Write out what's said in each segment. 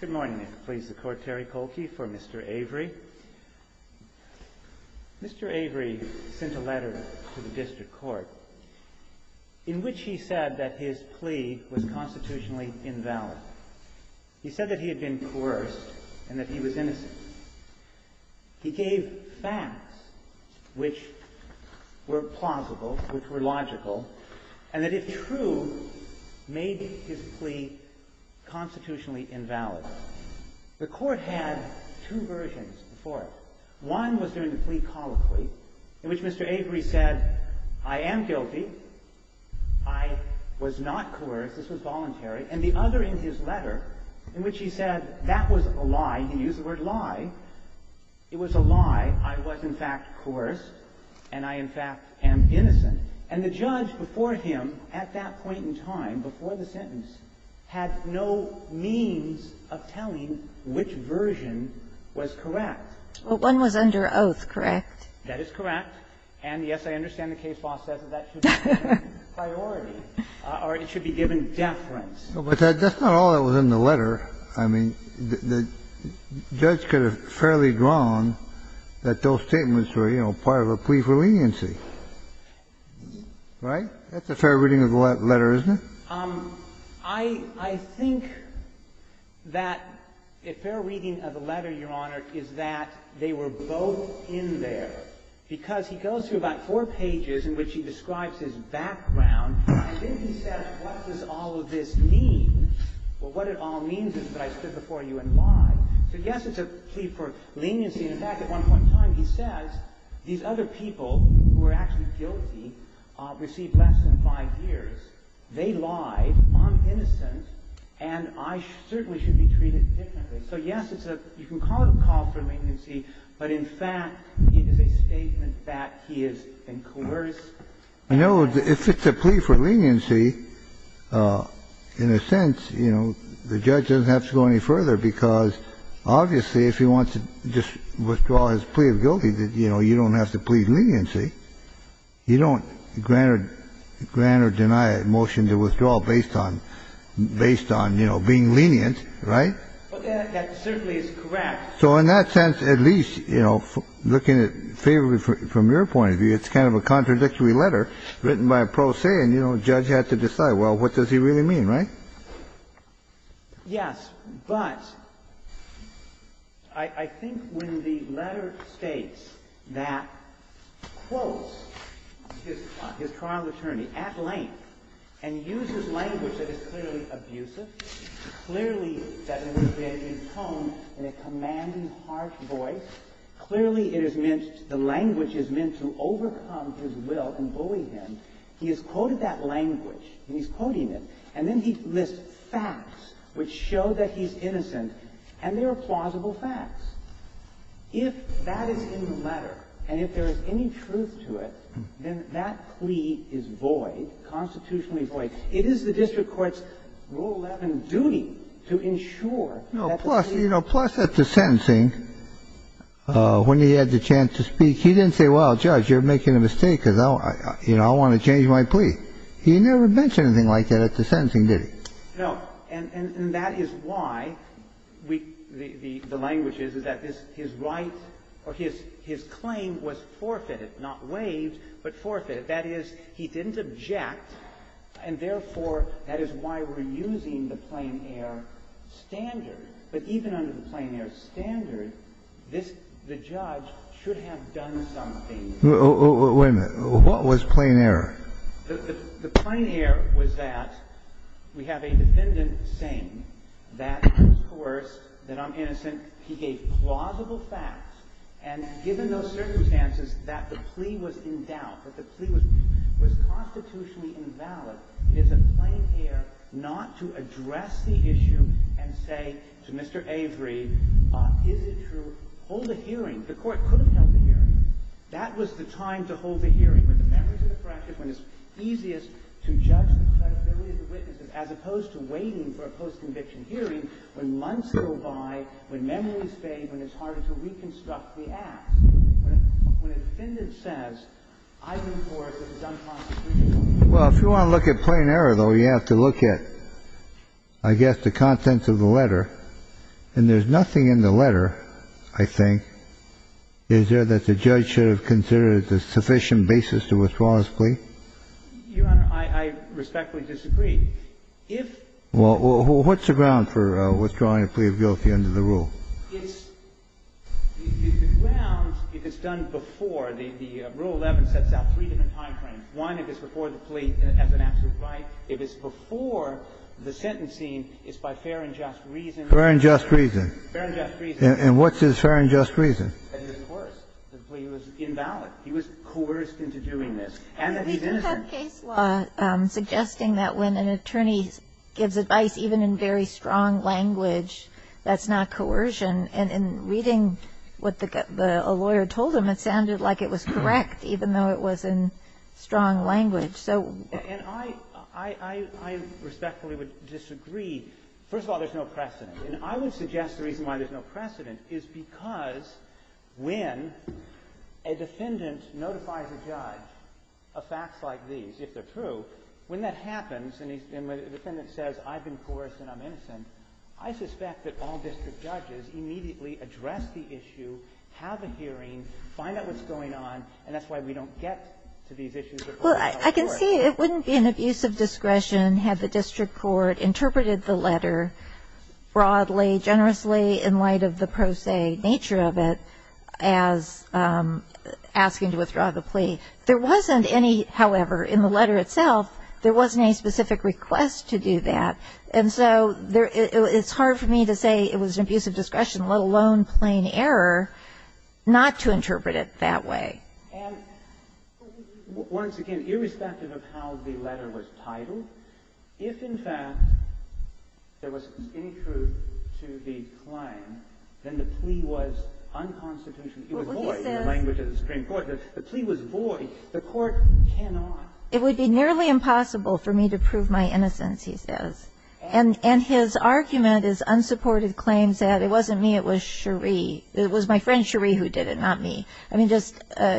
Good morning, it pleases the Court, Terry Kohlke for Mr. Avery. Mr. Avery sent a letter to the District Court in which he said that his plea was constitutionally invalid. He said that he had been coerced and that he was innocent. He gave facts which were plausible, which were logical, and that if true, made his plea constitutionally invalid. The Court had two versions before it. One was during the plea colloquy in which Mr. Avery said, I am guilty, I was not coerced, this was voluntary. And the other in his letter in which he said that was a lie. He used the word lie. It was a lie. I was, in fact, coerced, and I, in fact, am innocent. And the judge before him at that point in time, before the sentence, had no means of telling which version was correct. Well, one was under oath, correct? That is correct. And, yes, I understand the case law says that that should be given priority, or it should be given deference. But that's not all that was in the letter. I mean, the judge could have fairly drawn that those statements were, you know, part of a plea for leniency. Right? That's a fair reading of the letter, isn't it? I think that a fair reading of the letter, Your Honor, is that they were both in there because he goes through about four pages in which he describes his background. And then he says, what does all of this mean? Well, what it all means is that I stood before you and lied. So, yes, it's a plea for leniency. In fact, at one point in time, he says, these other people who were actually guilty received less than five years. They lied, I'm innocent, and I certainly should be treated differently. So, yes, it's a you can call it a call for leniency, but, in fact, it is a statement that he has been coerced. I know if it's a plea for leniency, in a sense, you know, the judge doesn't have to go any further because, obviously, if he wants to just withdraw his plea of guilty, you know, you don't have to plead leniency. You don't grant or deny a motion to withdraw based on being lenient, right? Well, that certainly is correct. So in that sense, at least, you know, looking at it favorably from your point of view, it's kind of a contradictory letter written by a pro se, and, you know, the judge had to decide, well, what does he really mean, right? Yes. But I think when the letter states that quotes his trial attorney at length and uses language that is clearly abusive, clearly that is being intoned in a commanding harsh voice, clearly it is meant, the language is meant to overcome his will and bully him, he has quoted that language, and he's quoting it, and then he lists facts which show that he's innocent, and there are plausible facts. If that is in the letter, and if there is any truth to it, then that plea is void, constitutionally void. It is the district court's Rule 11 duty to ensure that the plea is valid. No. Plus, you know, plus at the sentencing, when he had the chance to speak, he didn't say, well, Judge, you're making a mistake because I want to change my plea. He never mentioned anything like that at the sentencing, did he? No. And that is why the language is that his right or his claim was forfeited, not waived, but forfeited. That is, he didn't object, and therefore, that is why we're using the plain air standard. But even under the plain air standard, this judge should have done something. Kennedy. Wait a minute. What was plain air? The plain air was that we have a defendant saying that he's coerced, that I'm innocent. And he gave plausible facts, and given those circumstances that the plea was in doubt, that the plea was constitutionally invalid, it is a plain air not to address the issue and say to Mr. Avery, is it true? Hold a hearing. The court could have held a hearing. That was the time to hold a hearing, when the memories are fresh, when it's easiest to judge the credibility of the witnesses, as opposed to waiting for a post-conviction hearing when months go by, when memories fade, when it's harder to reconstruct the act. When a defendant says, I've been coerced, this is unconstitutional. Well, if you want to look at plain air, though, you have to look at, I guess, the contents of the letter. And there's nothing in the letter, I think. Is there that the judge should have considered as a sufficient basis to withdraw his plea? Your Honor, I respectfully disagree. Well, what's the ground for withdrawing a plea of guilt at the end of the rule? The ground, if it's done before, the Rule 11 sets out three different time frames. One, if it's before the plea as an absolute right. If it's before the sentencing, it's by fair and just reason. Fair and just reason. Fair and just reason. And what's his fair and just reason? That he was coerced. The plea was invalid. He was coerced into doing this. And that he's innocent. We do have case law suggesting that when an attorney gives advice, even in very strong language, that's not coercion. And in reading what a lawyer told him, it sounded like it was correct, even though it was in strong language. And I respectfully would disagree. First of all, there's no precedent. And I would suggest the reason why there's no precedent is because when a defendant notifies a judge of facts like these, if they're true, when that happens and the defendant says, I've been coerced and I'm innocent, I suspect that all district judges immediately address the issue, have a hearing, find out what's going on, and that's why we don't get to these issues at court. Well, I can see it wouldn't be an abuse of discretion had the district court interpreted the letter broadly, generously, in light of the pro se nature of it as asking to withdraw the plea. There wasn't any, however, in the letter itself, there wasn't any specific request to do that. And so it's hard for me to say it was an abuse of discretion, let alone plain error, not to interpret it that way. And once again, irrespective of how the letter was titled, if in fact there was any truth to the claim, then the plea was unconstitutional. It was void in the language of the district court. The plea was void. The court cannot. It would be nearly impossible for me to prove my innocence, he says. And his argument is unsupported claims that it wasn't me, it was Cherie. It was my friend Cherie who did it, not me. I mean, just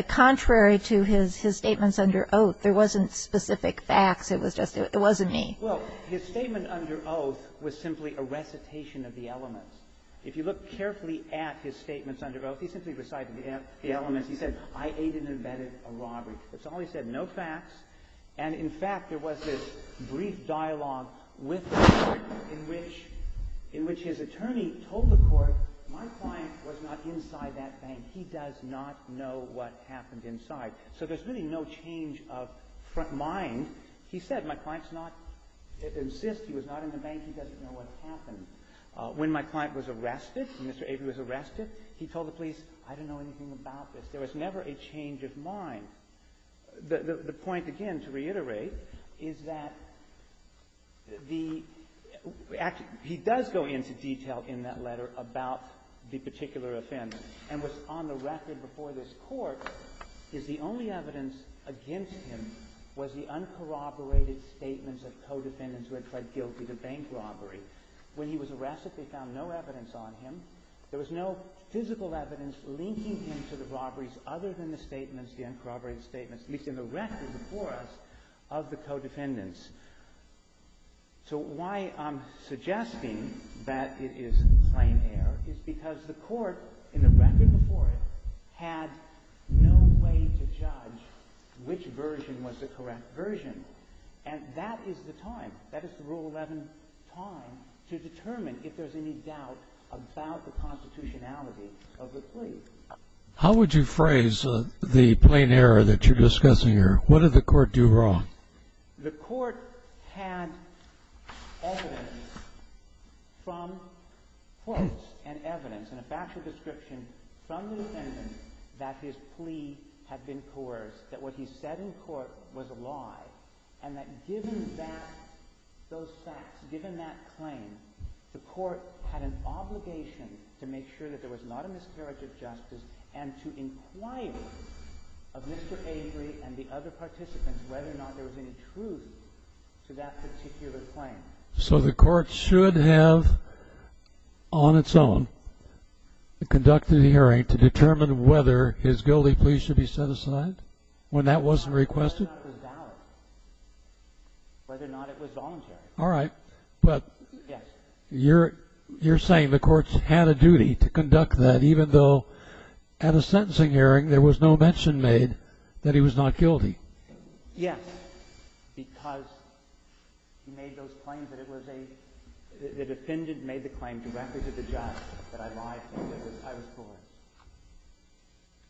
contrary to his statements under oath, there wasn't specific facts. It was just it wasn't me. Well, his statement under oath was simply a recitation of the elements. If you look carefully at his statements under oath, he simply recited the elements. He said, I aided and abetted a robbery. That's all he said, no facts. And in fact, there was this brief dialogue with the court in which his attorney told the court, my client was not inside that bank. And he does not know what happened inside. So there's really no change of mind. He said, my client's not, insists he was not in the bank. He doesn't know what happened. When my client was arrested, when Mr. Avery was arrested, he told the police, I don't know anything about this. There was never a change of mind. The point, again, to reiterate, is that the actual, he does go into detail in that on the record before this court is the only evidence against him was the uncorroborated statements of co-defendants who had pled guilty to bank robbery. When he was arrested, they found no evidence on him. There was no physical evidence linking him to the robberies other than the statements, the uncorroborated statements, at least in the record before us, of the co-defendants. So why I'm suggesting that it is plain error is because the court, in the record before it, had no way to judge which version was the correct version. And that is the time. That is the Rule 11 time to determine if there's any doubt about the constitutionality of the plea. How would you phrase the plain error that you're discussing here? What did the court do wrong? The court had evidence from quotes and evidence and a factual description from the defendant that his plea had been coerced, that what he said in court was a lie, and that given that, those facts, given that claim, the court had an obligation to make sure that there was not a miscarriage of justice and to inquire of Mr. Avery and the other participants whether or not there was any truth to that particular claim. So the court should have, on its own, conducted a hearing to determine whether his guilty plea should be set aside when that wasn't requested? Whether or not it was valid. Whether or not it was voluntary. All right. But you're saying the court had a duty to conduct that even though at a sentencing hearing there was no mention made that he was not guilty? Yes. Because he made those claims that it was a — the defendant made the claim directly to the judge that I lied to him, that I was coerced.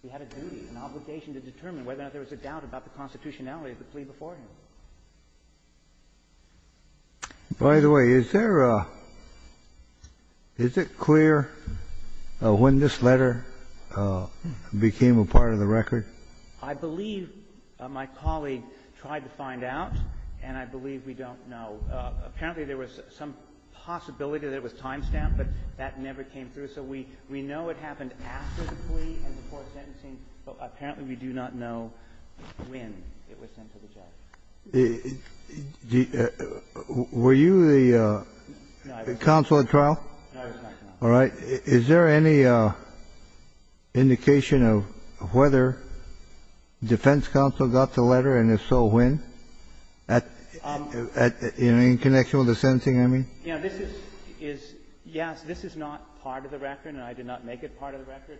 He had a duty, an obligation to determine whether or not there was a doubt about the constitutionality of the plea before him. By the way, is there a — is it clear when this letter became a part of the record? I believe my colleague tried to find out, and I believe we don't know. Apparently, there was some possibility that it was timestamped, but that never came through. So we know it happened after the plea and before the sentencing, but apparently we do not know when it was sent to the judge. Were you the counsel at trial? No, I was not. All right. Is there any indication of whether defense counsel got the letter, and if so, when? In connection with the sentencing, I mean? Yes. This is not part of the record, and I did not make it part of the record.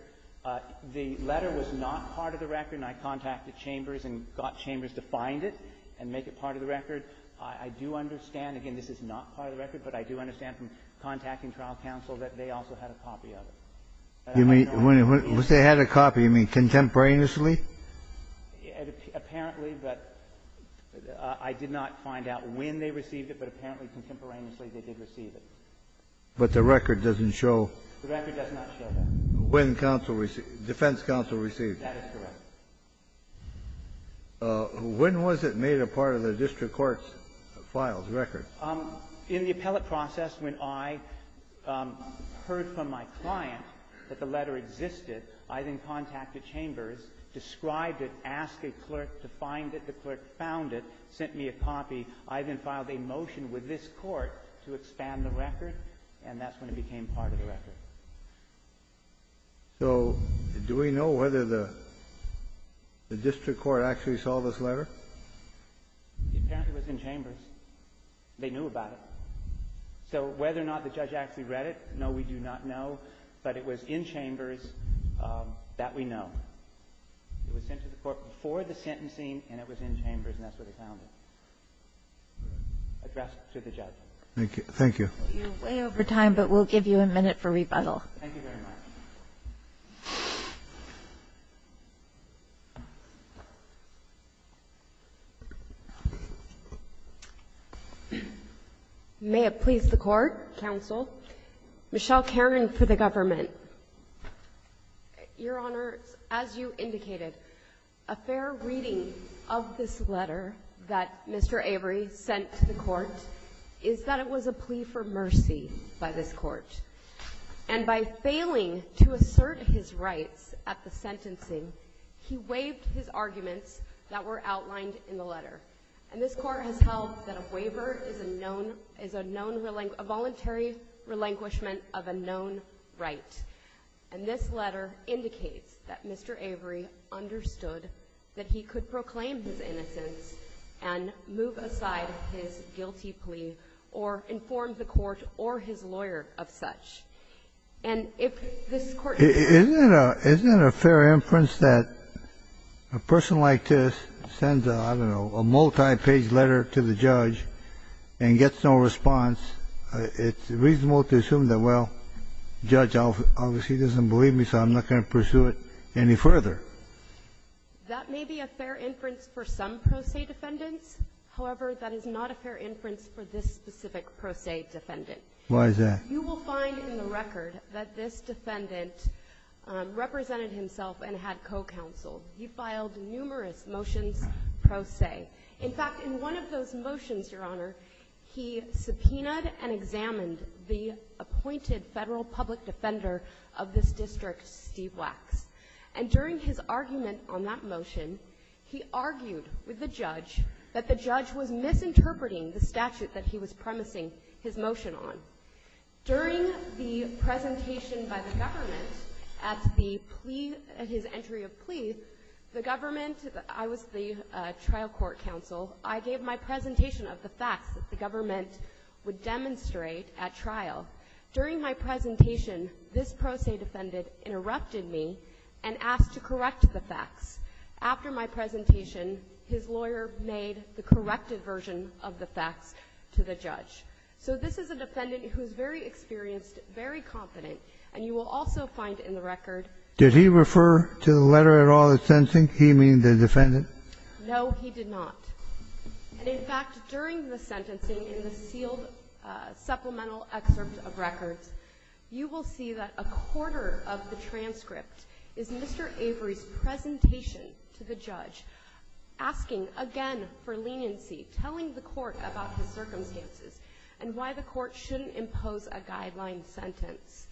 The letter was not part of the record, and I contacted Chambers and got Chambers to find it and make it part of the record. I do understand, again, this is not part of the record, but I do understand from contacting trial counsel that they also had a copy of it. You mean when they had a copy, you mean contemporaneously? Apparently. But I did not find out when they received it, but apparently contemporaneously they did receive it. But the record doesn't show. The record does not show that. When defense counsel received it. That is correct. When was it made a part of the district court's files, record? In the appellate process, when I heard from my client that the letter existed, I then contacted Chambers, described it, asked a clerk to find it. The clerk found it, sent me a copy. I then filed a motion with this Court to expand the record, and that's when it became part of the record. So do we know whether the district court actually saw this letter? It apparently was in Chambers. They knew about it. So whether or not the judge actually read it, no, we do not know. But it was in Chambers that we know. It was sent to the Court before the sentencing, and it was in Chambers, and that's where they found it. Addressed to the judge. Thank you. Thank you. We're way over time, but we'll give you a minute for rebuttal. Thank you very much. May it please the Court, Counsel. Michelle Caron for the Government. Your Honor, as you indicated, a fair reading of this letter that Mr. Avery sent to the rights at the sentencing, he waived his arguments that were outlined in the letter. And this Court has held that a waiver is a voluntary relinquishment of a known right. And this letter indicates that Mr. Avery understood that he could proclaim his innocence and move aside his guilty plea or inform the Court or his lawyer of such. And if this Court ---- Isn't it a fair inference that a person like this sends a, I don't know, a multi-page letter to the judge and gets no response? It's reasonable to assume that, well, the judge obviously doesn't believe me, so I'm not going to pursue it any further. That may be a fair inference for some pro se defendants. However, that is not a fair inference for this specific pro se defendant. Why is that? You will find in the record that this defendant represented himself and had co-counsel. He filed numerous motions pro se. In fact, in one of those motions, Your Honor, he subpoenaed and examined the appointed federal public defender of this district, Steve Wax. And during his argument on that motion, he argued with the judge that the judge was During the presentation by the government at the plea, at his entry of plea, the government ---- I was the trial court counsel. I gave my presentation of the facts that the government would demonstrate at trial. During my presentation, this pro se defendant interrupted me and asked to correct the facts. After my presentation, his lawyer made the corrected version of the facts to the judge. So this is a defendant who is very experienced, very confident. And you will also find in the record ---- Did he refer to the letter at all in the sentencing? He, meaning the defendant? No, he did not. And in fact, during the sentencing, in the sealed supplemental excerpt of records, you will see that a quarter of the transcript is Mr. Avery's presentation to the judge, asking again for leniency, telling the court about his circumstances, and why the court shouldn't impose a guideline sentence.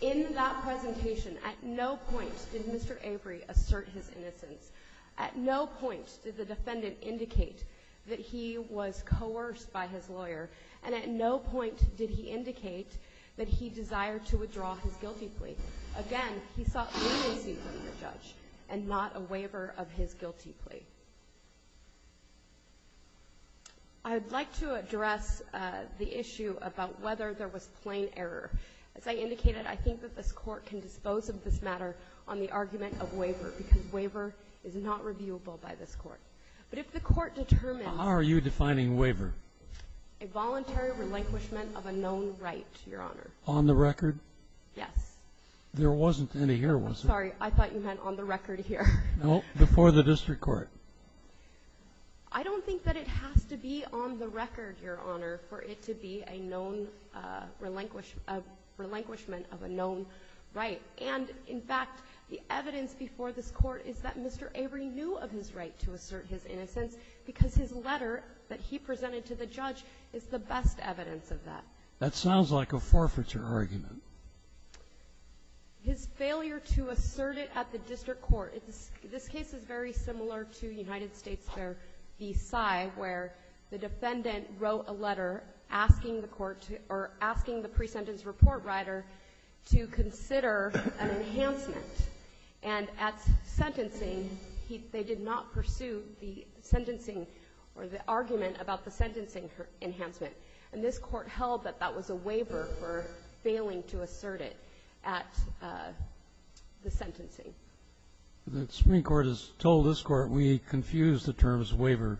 In that presentation, at no point did Mr. Avery assert his innocence. At no point did the defendant indicate that he was coerced by his lawyer. And at no point did he indicate that he desired to withdraw his guilty plea. Again, he sought leniency from the judge and not a waiver of his guilty plea. I would like to address the issue about whether there was plain error. As I indicated, I think that this Court can dispose of this matter on the argument of waiver because waiver is not reviewable by this Court. But if the Court determines ---- How are you defining waiver? A voluntary relinquishment of a known right, Your Honor. On the record? Yes. There wasn't any here, was there? I'm sorry. I thought you meant on the record here. No. Before the district court. I don't think that it has to be on the record, Your Honor, for it to be a known relinquishment of a known right. And, in fact, the evidence before this Court is that Mr. Avery knew of his right to assert his innocence because his letter that he presented to the judge is the best evidence of that. That sounds like a forfeiture argument. His failure to assert it at the district court. This case is very similar to United States v. Sy, where the defendant wrote a letter asking the court to or asking the pre-sentence report writer to consider an enhancement. And at sentencing, they did not pursue the sentencing or the argument about the sentencing enhancement. And this Court held that that was a waiver for failing to assert it at the sentencing. The Supreme Court has told this Court we confuse the terms waiver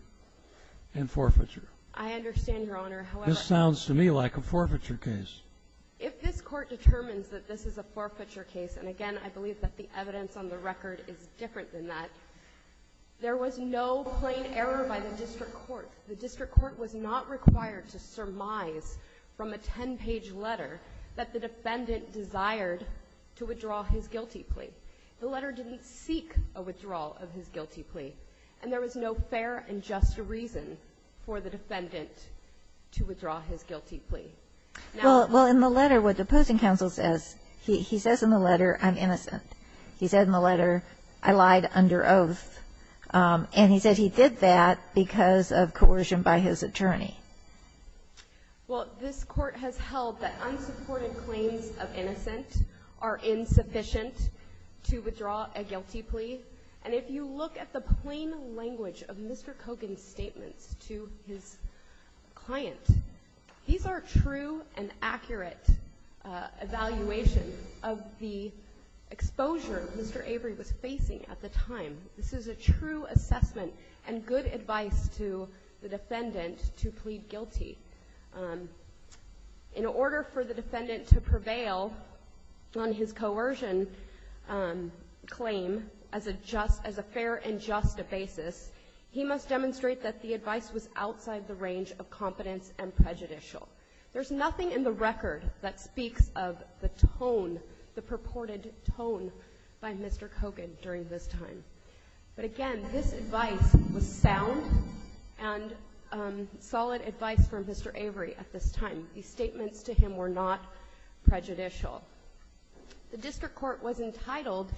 and forfeiture. I understand, Your Honor. This sounds to me like a forfeiture case. If this Court determines that this is a forfeiture case, and, again, I believe that the evidence on the record is different than that, there was no plain error by the district court. The district court was not required to surmise from a ten-page letter that the defendant desired to withdraw his guilty plea. The letter didn't seek a withdrawal of his guilty plea. And there was no fair and just reason for the defendant to withdraw his guilty plea. Well, in the letter, what the opposing counsel says, he says in the letter, I'm innocent. He said in the letter, I lied under oath. And he said he did that because of coercion by his attorney. Well, this Court has held that unsupported claims of innocent are insufficient to withdraw a guilty plea. And if you look at the plain language of Mr. Kogan's statements to his client, these are true and accurate evaluation of the exposure Mr. Avery was facing at the time. This is a true assessment and good advice to the defendant to plead guilty. In order for the defendant to prevail on his coercion claim as a fair and just basis, he must demonstrate that the advice was outside the range of competence and prejudicial. There's nothing in the record that speaks of the tone, the purported tone by Mr. Kogan during this time. But again, this advice was sound and solid advice from Mr. Avery at this time. These statements to him were not prejudicial. The District Court was entitled,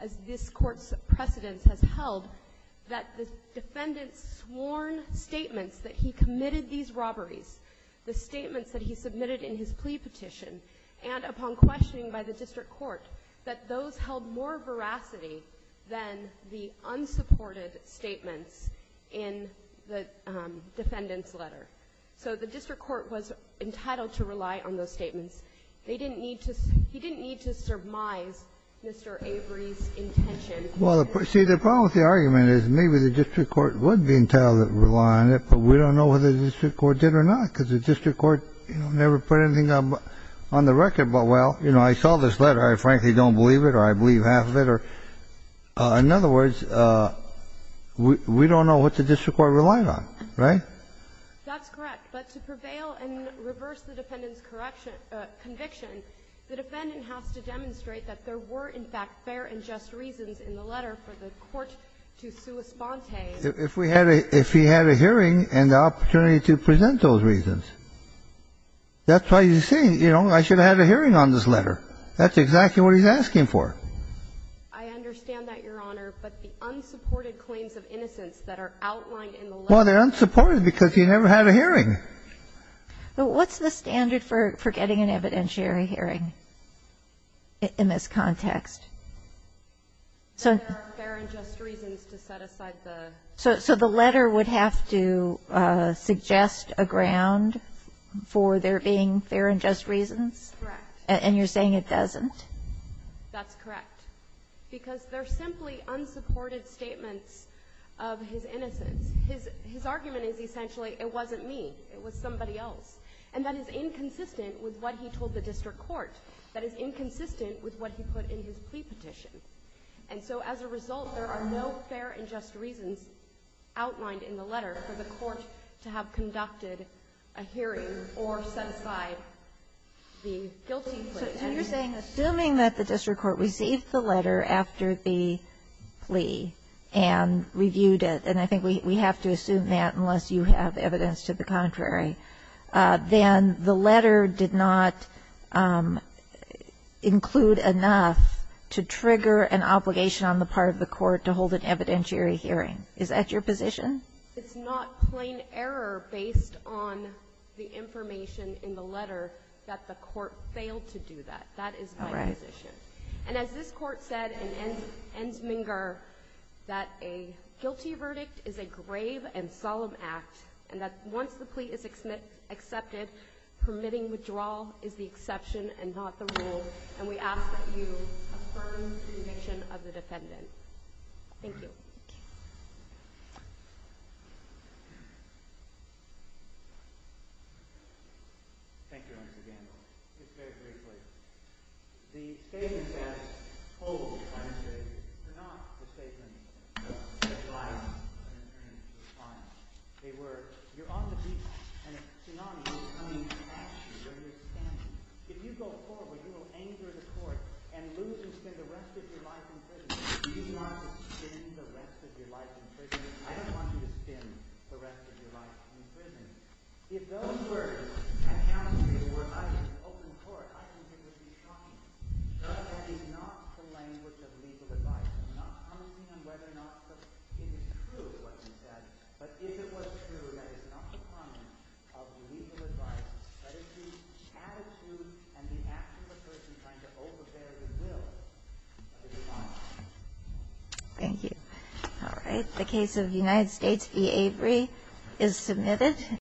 as this Court's precedence has held, that the defendant's sworn statements that he committed these robberies, the statements that he submitted in his plea petition, and upon questioning by the District Court, that those held more veracity than the unsupported statements in the defendant's letter. So the District Court was entitled to rely on those statements. They didn't need to – he didn't need to surmise Mr. Avery's intention. Well, see, the problem with the argument is maybe the District Court would be entitled to rely on it, but we don't know whether the District Court did or not, because the District Court, you know, never put anything on the record about, well, you know, I saw this letter. I frankly don't believe it, or I believe half of it. In other words, we don't know what the District Court relied on. Right? That's correct. But to prevail and reverse the defendant's conviction, the defendant has to demonstrate that there were, in fact, fair and just reasons in the letter for the court to sua spontae. If we had a – if he had a hearing and the opportunity to present those reasons. That's why he's saying, you know, I should have had a hearing on this letter. That's exactly what he's asking for. I understand that, Your Honor, but the unsupported claims of innocence that are outlined in the letter. Well, they're unsupported because he never had a hearing. What's the standard for getting an evidentiary hearing in this context? There are fair and just reasons to set aside the. So the letter would have to suggest a ground for there being fair and just reasons? Correct. And you're saying it doesn't? That's correct. Because they're simply unsupported statements of his innocence. His argument is essentially, it wasn't me. It was somebody else. And that is inconsistent with what he told the District Court. That is inconsistent with what he put in his plea petition. And so as a result, there are no fair and just reasons outlined in the letter for the court to have conducted a hearing or set aside the guilty plea. So you're saying, assuming that the District Court received the letter after the plea and reviewed it, and I think we have to assume that unless you have evidence to the contrary, then the letter did not include enough to trigger an obligation on the part of the court to hold an evidentiary hearing. Is that your position? It's not plain error based on the information in the letter that the court failed to do that. That is my position. All right. And as this Court said in Ensminger, that a guilty verdict is a grave and solemn act, and that once the plea is accepted, permitting withdrawal is the exception and not the rule. And we ask that you affirm the conviction of the defendant. Thank you. Thank you, Ms. Agambo. Just very briefly. The statement that was told by the statement, but not the statement that was provided by an attorney to the client, they were, you're on the beach and a tsunami is coming at you where you're standing. If you go forward, you will anger the court and lose and spend the rest of your life in prison. Do you want to spend the rest of your life in prison? I don't want you to spend the rest of your life in prison. Thank you. All right. The case of United States v. Avery is submitted. Thank you.